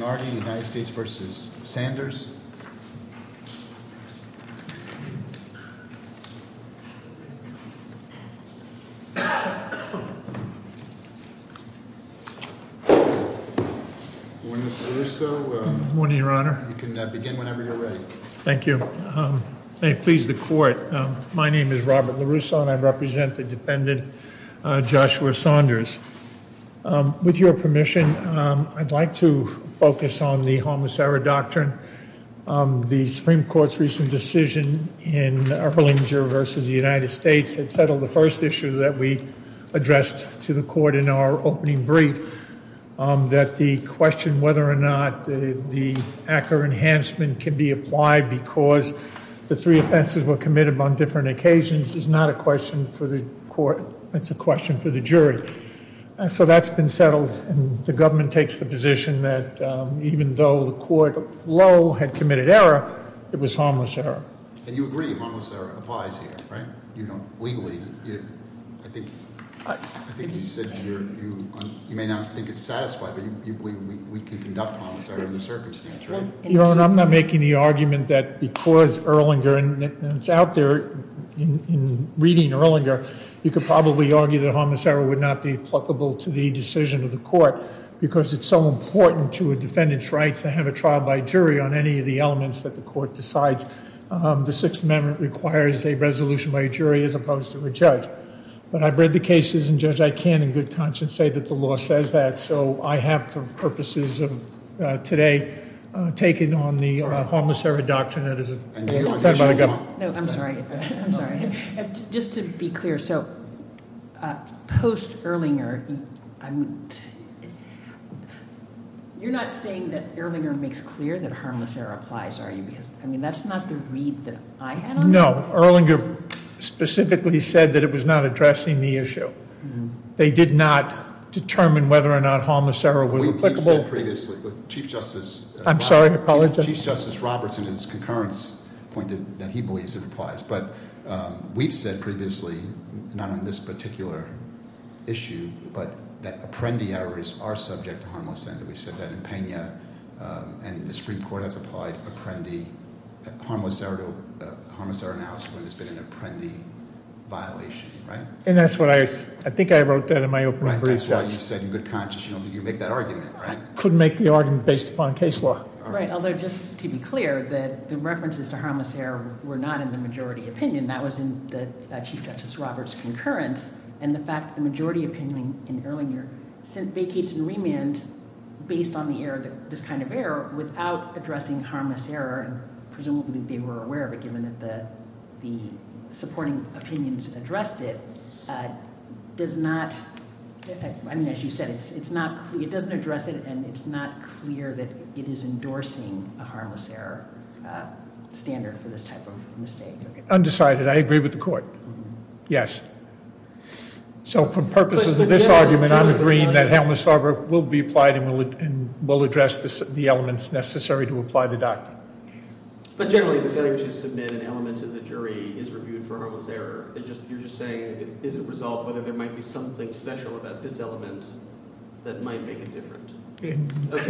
Good morning your honor. You can begin whenever you're ready. Thank you. May it please the court. My name is Robert LaRusso and I represent the defendant Joshua Saunders. With your permission I'd like to focus on the homicidal doctrine. The Supreme Court's recent decision in Erlinger v. the United States had settled the first issue that we addressed to the court in our opening brief that the question whether or not the Acker enhancement can be applied because the three offenses were committed on different occasions is not a question for the court it's a question for the government takes the position that even though the court low had committed error it was harmless error. And you agree harmless error applies here, right? You know, legally. I think you said you're, you may not think it's satisfied but we can conduct harmless error in the circumstance, right? Your honor, I'm not making the argument that because Erlinger, and it's out there in reading Erlinger, you could probably argue that harmless error would not be applicable to the decision of the court because it's so important to a defendant's rights to have a trial by jury on any of the elements that the court decides. The Sixth Amendment requires a resolution by a jury as opposed to a judge. But I've read the cases and, Judge, I can in good conscience say that the law says that. So I have for purposes of today taken on the harmless error doctrine that is said by the government. No, I'm sorry. I'm sorry. Just to be clear, so post Erlinger, you're not saying that Erlinger makes clear that harmless error applies, are you? Because, I mean, that's not the read that I had on it. No, Erlinger specifically said that it was not addressing the issue. They did not determine whether or not harmless error was applicable. We've said previously, but Chief Justice- I'm sorry, I apologize. Chief Justice Robertson, in his concurrence, pointed that he believes it applies. But we've said previously, not on this particular issue, but that apprendee errors are subject to harmless error. We said that in Pena, and the Supreme Court has applied harmless error analysis when there's been an apprendee violation, right? And that's what I, I think I wrote that in my opening brief, Judge. Right, that's why you said in good conscience, you make that argument, right? Could make the argument based upon case law. Right, although just to be clear, the references to harmless error were not in the majority opinion. That was in the Chief Justice Robertson's concurrence. And the fact that the majority opinion in Erlinger vacates and remands based on the error, this kind of error, without addressing harmless error, and presumably they were aware of it given that the supporting opinions addressed it, does not, I mean, as you said, it's not clear, it doesn't address it, and it's not clear that it is endorsing a harmless error standard for this type of mistake. Undecided, I agree with the court. Yes. So for purposes of this argument, I'm agreeing that harmless error will be applied and will address the elements necessary to apply the doctrine. But generally, the failure to submit an element to the jury is reviewed for harmless error. You're just saying, is it resolved whether there might be something special about this element that might make it different? But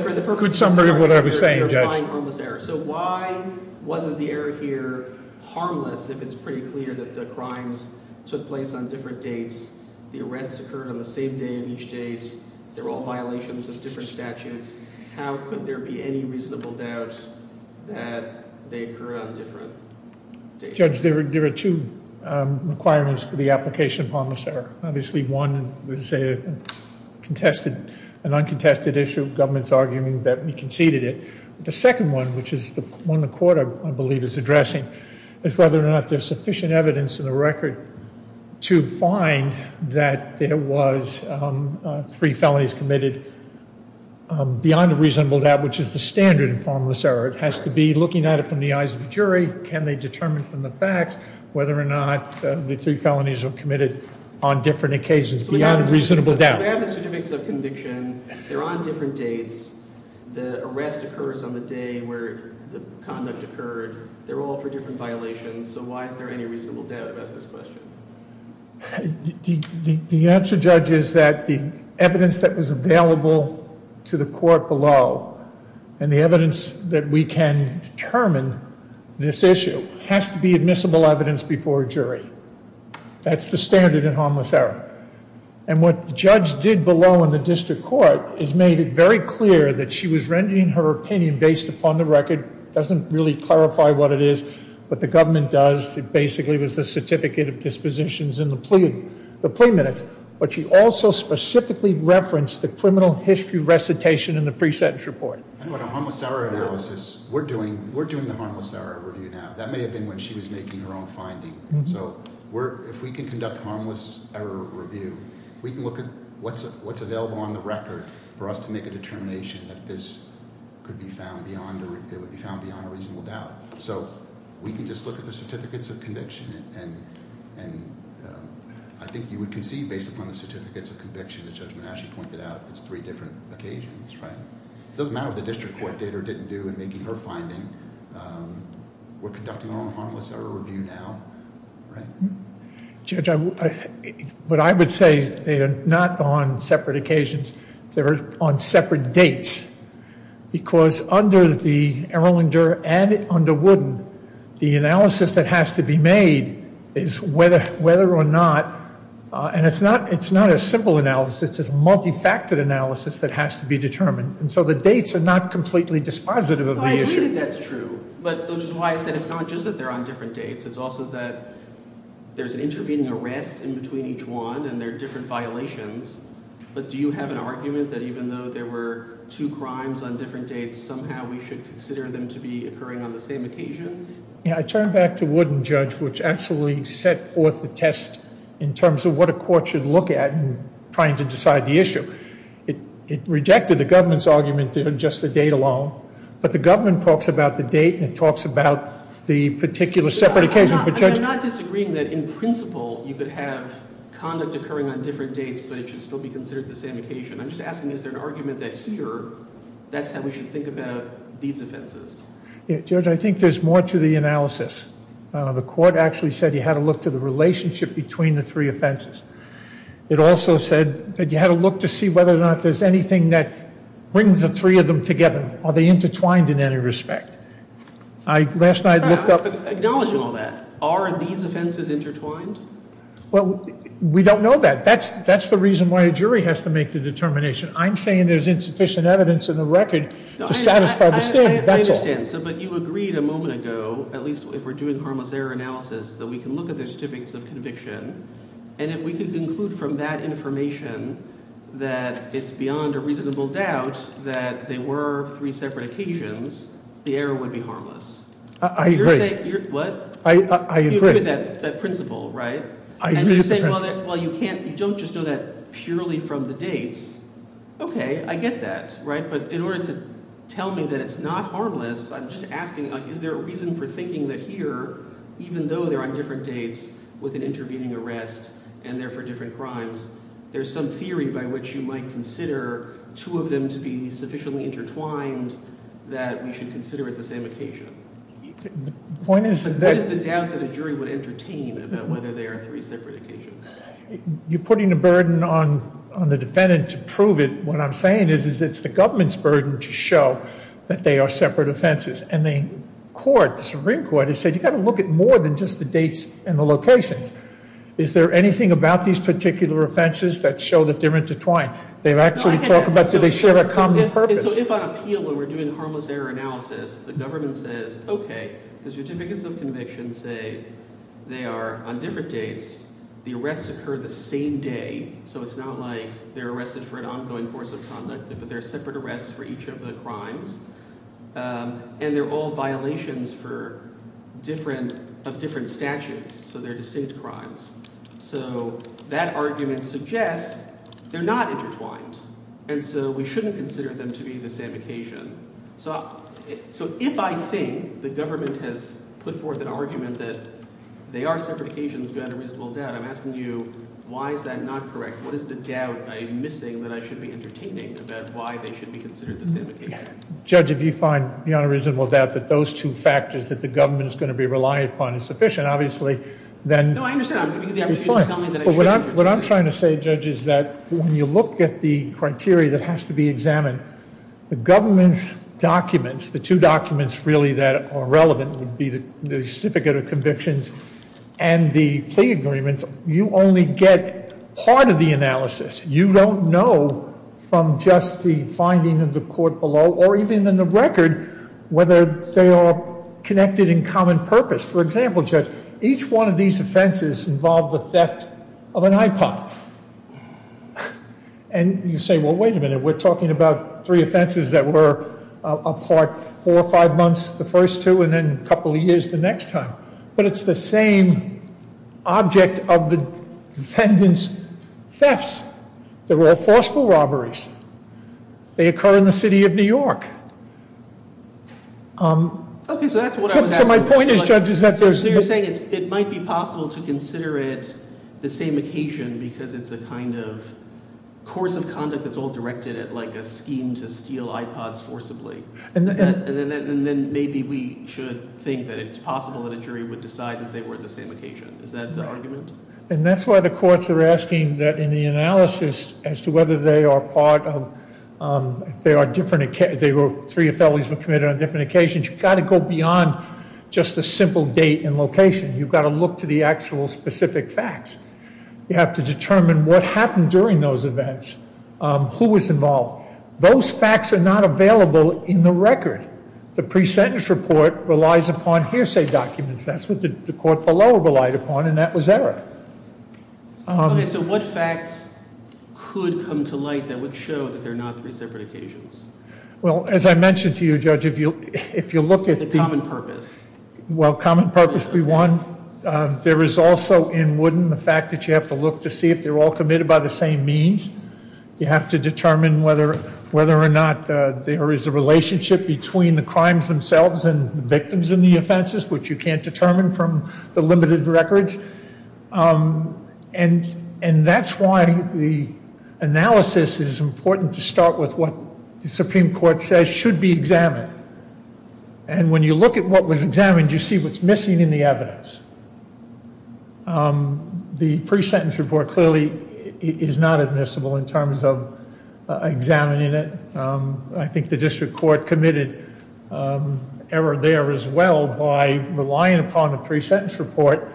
for the purpose of this argument, you're applying harmless error. So why wasn't the error here harmless if it's pretty clear that the crimes took place on different dates? The arrests occurred on the same day of each date. They're all violations of different statutes. How could there be any reasonable doubt that they occur on different dates? Judge, there are two requirements for the application of harmless error. Obviously, one is a contested, an uncontested issue. Government's arguing that we conceded it. The second one, which is the one the court, I believe, is addressing, is whether or not there's sufficient evidence in the record to find that there was three felonies committed beyond a reasonable doubt, which is the standard in harmless error. It has to be looking at it from the eyes of the jury. Can they determine from the facts whether or not the three felonies were committed on different occasions beyond a reasonable doubt? They have the certificates of conviction. They're on different dates. The arrest occurs on the day where the conduct occurred. They're all for different violations. So why is there any reasonable doubt about this question? The answer, Judge, is that the evidence that was available to the court below, and the evidence that we can determine this issue, has to be admissible evidence before a jury. That's the standard in harmless error. And what the judge did below in the district court is made it very clear that she was rendering her opinion based upon the record. Doesn't really clarify what it is, but the government does. It basically was the certificate of dispositions in the plea minutes. But she also specifically referenced the criminal history recitation in the pre-sentence report. And what a harmless error analysis, we're doing the harmless error review now. That may have been when she was making her own finding. So if we can conduct harmless error review, we can look at what's available on the record for us to make a determination that this could be found beyond a reasonable doubt. So we can just look at the certificates of conviction and I think you would conceive based upon the certificates of conviction that Judge Manasci pointed out, it's three different occasions, right? It doesn't matter what the district court did or didn't do in making her finding, we're conducting our own harmless error review now, right? Judge, what I would say is they are not on separate occasions, they're on separate dates. Because under the Erlander and under Wooden, the analysis that has to be made is whether or not, and it's not a simple analysis, it's a multi-faceted analysis that has to be determined. And so the dates are not completely dispositive of the issue. I agree that that's true, but which is why I said it's not just that they're on different dates, it's also that there's an intervening arrest in between each one and there are different violations. But do you have an argument that even though there were two crimes on different dates, somehow we should consider them to be occurring on the same occasion? Yeah, I turn back to Wooden, Judge, which actually set forth the test in terms of what a court should look at in trying to decide the issue. It rejected the government's argument to adjust the date alone. But the government talks about the date and it talks about the particular separate occasion. I'm not disagreeing that in principle, you could have conduct occurring on different dates, but it should still be considered the same occasion. I'm just asking, is there an argument that here, that's how we should think about these offenses? Yeah, Judge, I think there's more to the analysis. The court actually said you had to look to the relationship between the three offenses. It also said that you had to look to see whether or not there's anything that brings the three of them together. Are they intertwined in any respect? Last night, I looked up- Acknowledging all that, are these offenses intertwined? Well, we don't know that. That's the reason why a jury has to make the determination. I'm saying there's insufficient evidence in the record to satisfy the stand, that's all. I understand, but you agreed a moment ago, at least if we're doing harmless error analysis, that we can look at the certificates of conviction. And if we could conclude from that information that it's beyond a reasonable doubt that they were three separate occasions, the error would be harmless. I agree. What? I agree. You agree with that principle, right? I agree with the principle. And you're saying, well, you don't just know that purely from the dates. Okay, I get that, right? But in order to tell me that it's not harmless, I'm just asking, is there a reason for thinking that here, even though they're on different dates with an intervening arrest and they're for different crimes, there's some theory by which you might consider two of them to be sufficiently intertwined that we should consider at the same occasion. The point is that- What is the doubt that a jury would entertain about whether they are three separate occasions? You're putting a burden on the defendant to prove it. What I'm saying is, is it's the government's burden to show that they are separate offenses. And the court, the Supreme Court, has said, you've got to look at more than just the dates and the locations. Is there anything about these particular offenses that show that they're intertwined? They've actually talked about, do they share a common purpose? So if on appeal, when we're doing harmless error analysis, the government says, okay, the certificates of conviction say they are on different dates, the arrests occur the same day. So it's not like they're arrested for an ongoing course of conduct, but they're separate arrests for each of the crimes. And they're all violations of different statutes. So they're distinct crimes. So that argument suggests they're not intertwined. And so we shouldn't consider them to be the same occasion. So if I think the government has put forth an argument that they are separate occasions beyond a reasonable doubt, I'm asking you, why is that not correct? What is the doubt I'm missing that I should be entertaining about why they should be considered the same occasion? Judge, if you find beyond a reasonable doubt that those two factors that the government is going to be relying upon is sufficient, obviously, then- No, I understand. I'm going to give you the opportunity to tell me that I shouldn't- What I'm trying to say, Judge, is that when you look at the criteria that has to be examined, the government's documents, the two documents really that are relevant would be the certificate of convictions and the plea agreements, you only get part of the analysis. You don't know from just the finding of the court below, or even in the record, whether they are connected in common purpose. For example, Judge, each one of these offenses involved the theft of an iPod. And you say, well, wait a minute, we're talking about three offenses that were apart four or five months the first two, and then a couple of years the next time. But it's the same object of the defendant's thefts. They're all forceful robberies. They occur in the city of New York. Okay, so that's what I was asking. So my point is, Judge, is that there's- So you're saying it might be possible to consider it the same occasion because it's a kind of course of conduct that's all directed at a scheme to steal iPods forcibly. And then maybe we should think that it's possible that a jury would decide that they were at the same occasion. Is that the argument? And that's why the courts are asking that in the analysis as to whether they are part of, if there are different, if three felonies were committed on different occasions, you've got to go beyond just the simple date and location. You've got to look to the actual specific facts. You have to determine what happened during those events, who was involved. Those facts are not available in the record. The pre-sentence report relies upon hearsay documents. That's what the court below relied upon, and that was error. Okay, so what facts could come to light that would show that they're not three separate occasions? Well, as I mentioned to you, Judge, if you look at the- The common purpose. Well, common purpose, there is also in Wooden the fact that you have to look to see if they're all committed by the same means. You have to determine whether or not there is a relationship between the crimes themselves and the victims and the offenses, which you can't determine from the limited records. And that's why the analysis is important to start with what the Supreme Court says should be examined. And when you look at what was examined, you see what's missing in the evidence. The pre-sentence report clearly is not admissible in terms of examining it. I think the district court committed error there as well by relying upon a pre-sentence report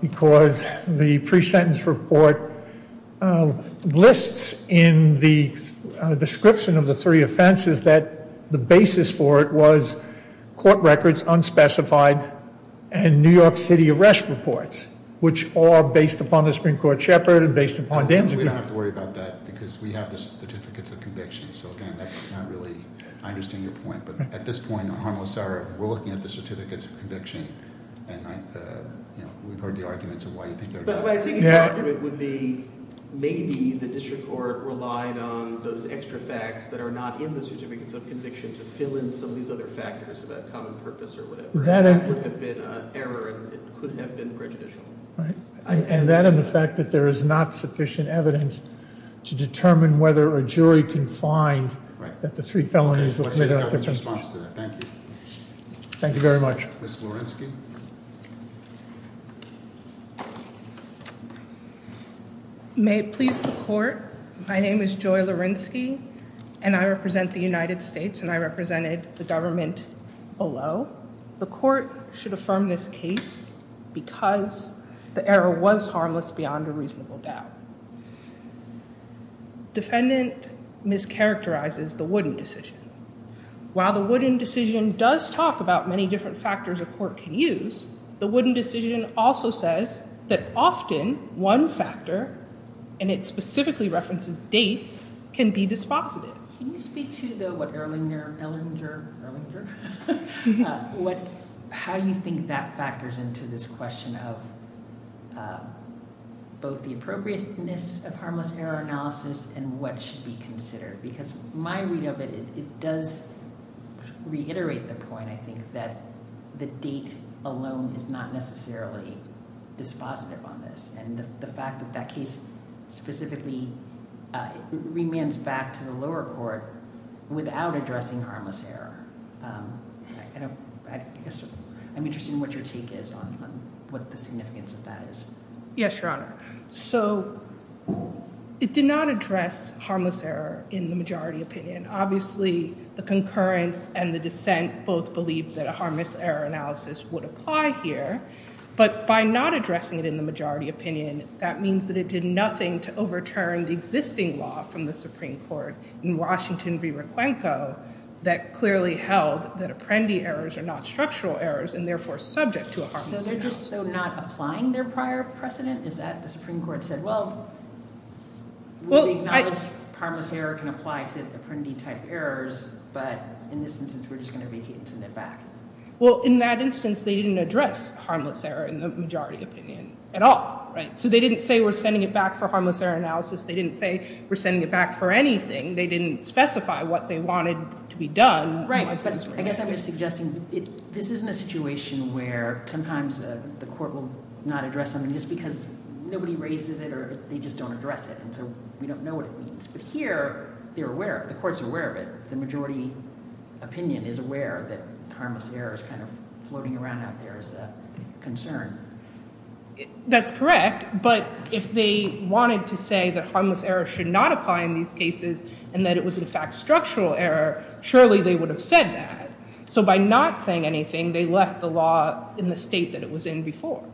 because the pre-sentence report lists in the description of the three offenses that the basis for it was court records unspecified and New York City arrest reports, which are based upon the Supreme Court Shepherd and based upon Danzig- We don't have to worry about that because we have the certificates of conviction. So again, that's not really, I understand your point. But at this point, on harmless error, we're looking at the certificates of conviction and we've heard the arguments of why you think they're- But I think the argument would be maybe the district court relied on those extra facts that are not in the certificates of conviction to fill in some of these other factors about common purpose or whatever. That would have been an error and it could have been prejudicial. Right. And that and the fact that there is not sufficient evidence to determine whether a jury can find that the three felonies were committed on a different case. Thank you. Thank you very much. Ms. Lorensky. May it please the court, my name is Joy Lorensky and I represent the United States and I represented the government below. The court should affirm this case because the error was harmless beyond a reasonable doubt. Defendant mischaracterizes the Wooden decision. While the Wooden decision does talk about many different factors a court can use, the Wooden decision also says that often one factor, and it specifically references dates, can be dispositive. Can you speak to the what Erlinger, Ellinger, Erlinger, what, how you think that factors into this question of both the appropriateness of harmless error analysis and what should be considered? Because my read of it, it does reiterate the point, I think, that the date alone is not necessarily dispositive on this. And the fact that that case specifically, it remains back to the lower court without addressing harmless error. I'm interested in what your take is on what the significance of that is. Yes, Your Honor. So it did not address harmless error in the majority opinion. Obviously, the concurrence and the dissent both believed that a harmless error analysis would apply here. But by not addressing it in the majority opinion, that means that it did nothing to overturn the existing law from the Supreme Court in Washington v Requenco that clearly held that Apprendi errors are not structural errors and therefore subject to a harmless error analysis. So they're just not applying their prior precedent? Is that the Supreme Court said, well, we acknowledge harmless error can apply to Apprendi type errors, but in this instance, we're just going to reject it and send it back? Well, in that instance, they didn't address harmless error in the majority opinion at all, right? So they didn't say we're sending it back for harmless error analysis. They didn't say we're sending it back for anything. They didn't specify what they wanted to be done. Right. But I guess I'm just suggesting this isn't a situation where sometimes the court will not address something just because nobody raises it or they just don't address it. And so we don't know what it means. But here, they're aware of it. The court's aware of it. The majority opinion is aware that harmless error is kind of floating around out there as a concern. That's correct. But if they wanted to say that harmless error should not apply in these cases and that it was, in fact, structural error, surely they would have said that. So by not saying anything, they left the law in the state that it was in before.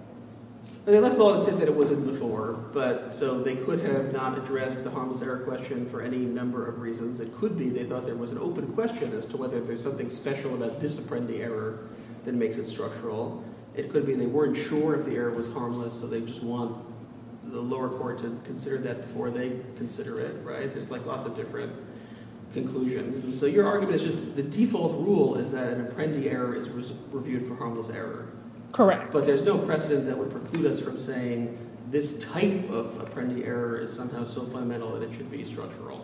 They left the law and said that it was in before, but so they could have not addressed the harmless error question for any number of reasons. It could be they thought there was an open question as to whether there's something special about this Apprendi error that makes it structural. It could be they weren't sure if the error was harmless, so they just want the lower court to consider that before they consider it. Right. There's like lots of different conclusions. And so your argument is just the default rule is that an Apprendi error is reviewed for harmless error. Correct. But there's no precedent that would preclude us from saying this type of Apprendi error is somehow so fundamental that it should be structural.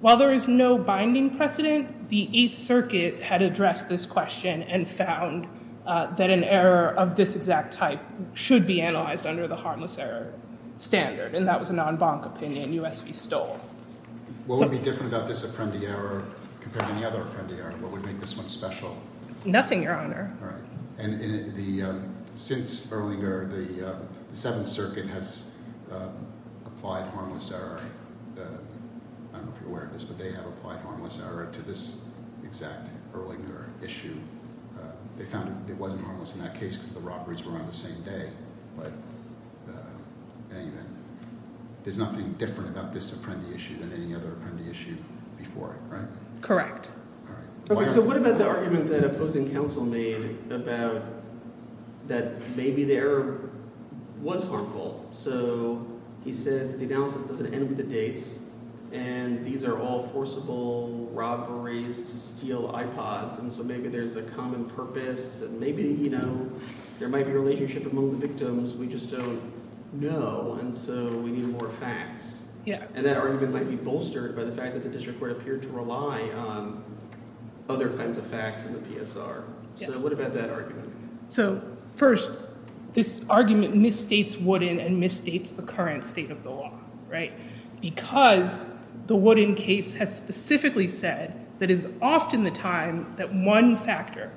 While there is no binding precedent, the Eighth Circuit had addressed this question and found that an error of this exact type should be analyzed under the harmless error standard. And that was a non-bonk opinion U.S. v. Stoll. What would be different about this Apprendi error compared to any other Apprendi error? What would make this one special? Nothing, Your Honor. All right. And since Erlinger, the Seventh Circuit has applied harmless error, I don't know if you're aware of this, but they have applied harmless error to this exact Erlinger issue. They found it wasn't harmless in that case because the robberies were on the same day. But there's nothing different about this Apprendi issue than any other Apprendi issue before it, right? Correct. So what about the argument that opposing counsel made about that maybe the error was harmful? So he says the analysis doesn't end with the dates and these are all forcible robberies to steal iPods. And so maybe there's a common purpose and maybe, you know, there might be a relationship among the victims. We just don't know. And so we need more facts. And that argument might be bolstered by the fact that the district court appeared to rely on other kinds of facts in the PSR. So what about that argument? So first, this argument misstates Wooden and misstates the current state of the law, right? Because the Wooden case has specifically said that it is often the time that one factor,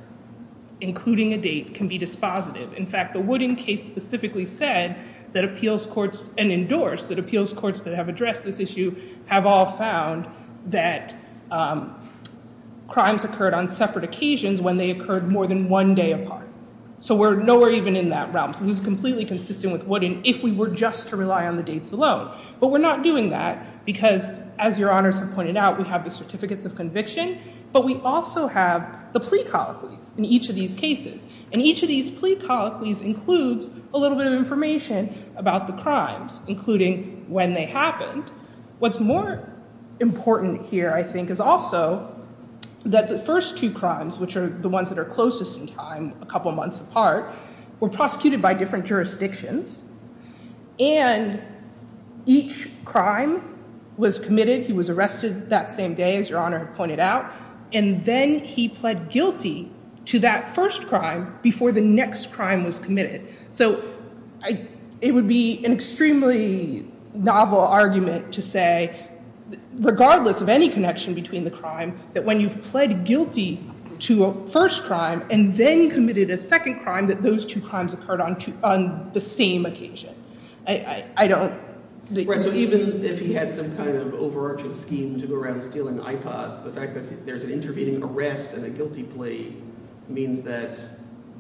including a date, can be dispositive. In fact, the Wooden case specifically said that appeals courts and endorsed that appeals courts that have addressed this issue have all found that crimes occurred on separate occasions when they occurred more than one day apart. So we're nowhere even in that realm. So this is completely consistent with Wooden if we were just to rely on the dates alone. But we're not doing that because, as your honors have pointed out, we have the certificates of conviction, but we also have the plea colloquies in each of these cases. And each of these plea colloquies includes a little bit of information about the crimes, including when they happened. What's more important here, I think, is also that the first two crimes, which are the ones that are closest in time, a couple of months apart, were prosecuted by different jurisdictions. And each crime was committed, he was arrested that same day, as your honor pointed out, and then he pled guilty to that first crime before the next crime was committed. So it would be an extremely novel argument to say, regardless of any connection between the crime, that when you've pled guilty to a first crime and then committed a second crime, that those two crimes occurred on the same occasion. I don't... Right, so even if he had some kind of overarching scheme to go around stealing iPods, the fact that there's an intervening arrest and a guilty plea means that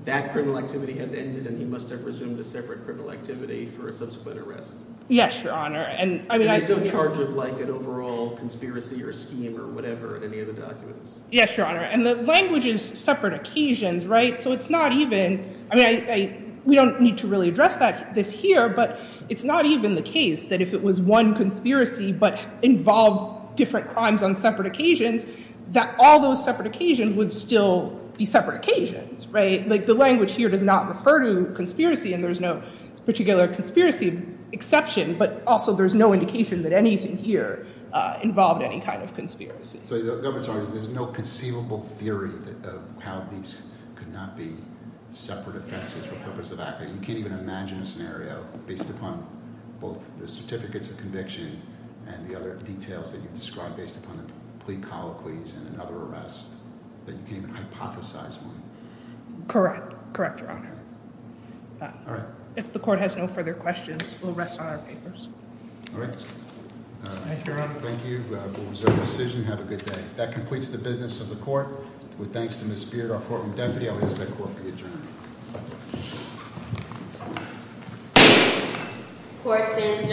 that criminal activity has ended and he must have resumed a separate criminal activity for a subsequent arrest. Yes, your honor. And there's no charge of like an overall conspiracy or scheme or whatever in any of the documents. Yes, your honor. And the language is separate occasions, right? So it's not even, I mean, we don't need to really address this here, but it's not even the case that if it was one conspiracy but involved different crimes on separate occasions, that all those separate occasions would still be separate occasions, right? Like the language here does not refer to conspiracy and there's no particular conspiracy exception, but also there's no indication that anything here involved any kind of conspiracy. So the government's argument is there's no conceivable theory of how these could not be separate offenses for purpose of activity. You can't even imagine a scenario based upon both the certificates of conviction and the other details that you've described based upon the plea colloquies and another arrest that you can't even hypothesize one. Correct. Correct, your honor. If the court has no further questions, we'll rest on our papers. All right. Thank you, your honor. Thank you. We'll reserve decision. Have a good day. That completes the business of the court with. Thanks to Miss Beard, our courtroom deputy. I'll ask that court be adjourned. Court is adjourned.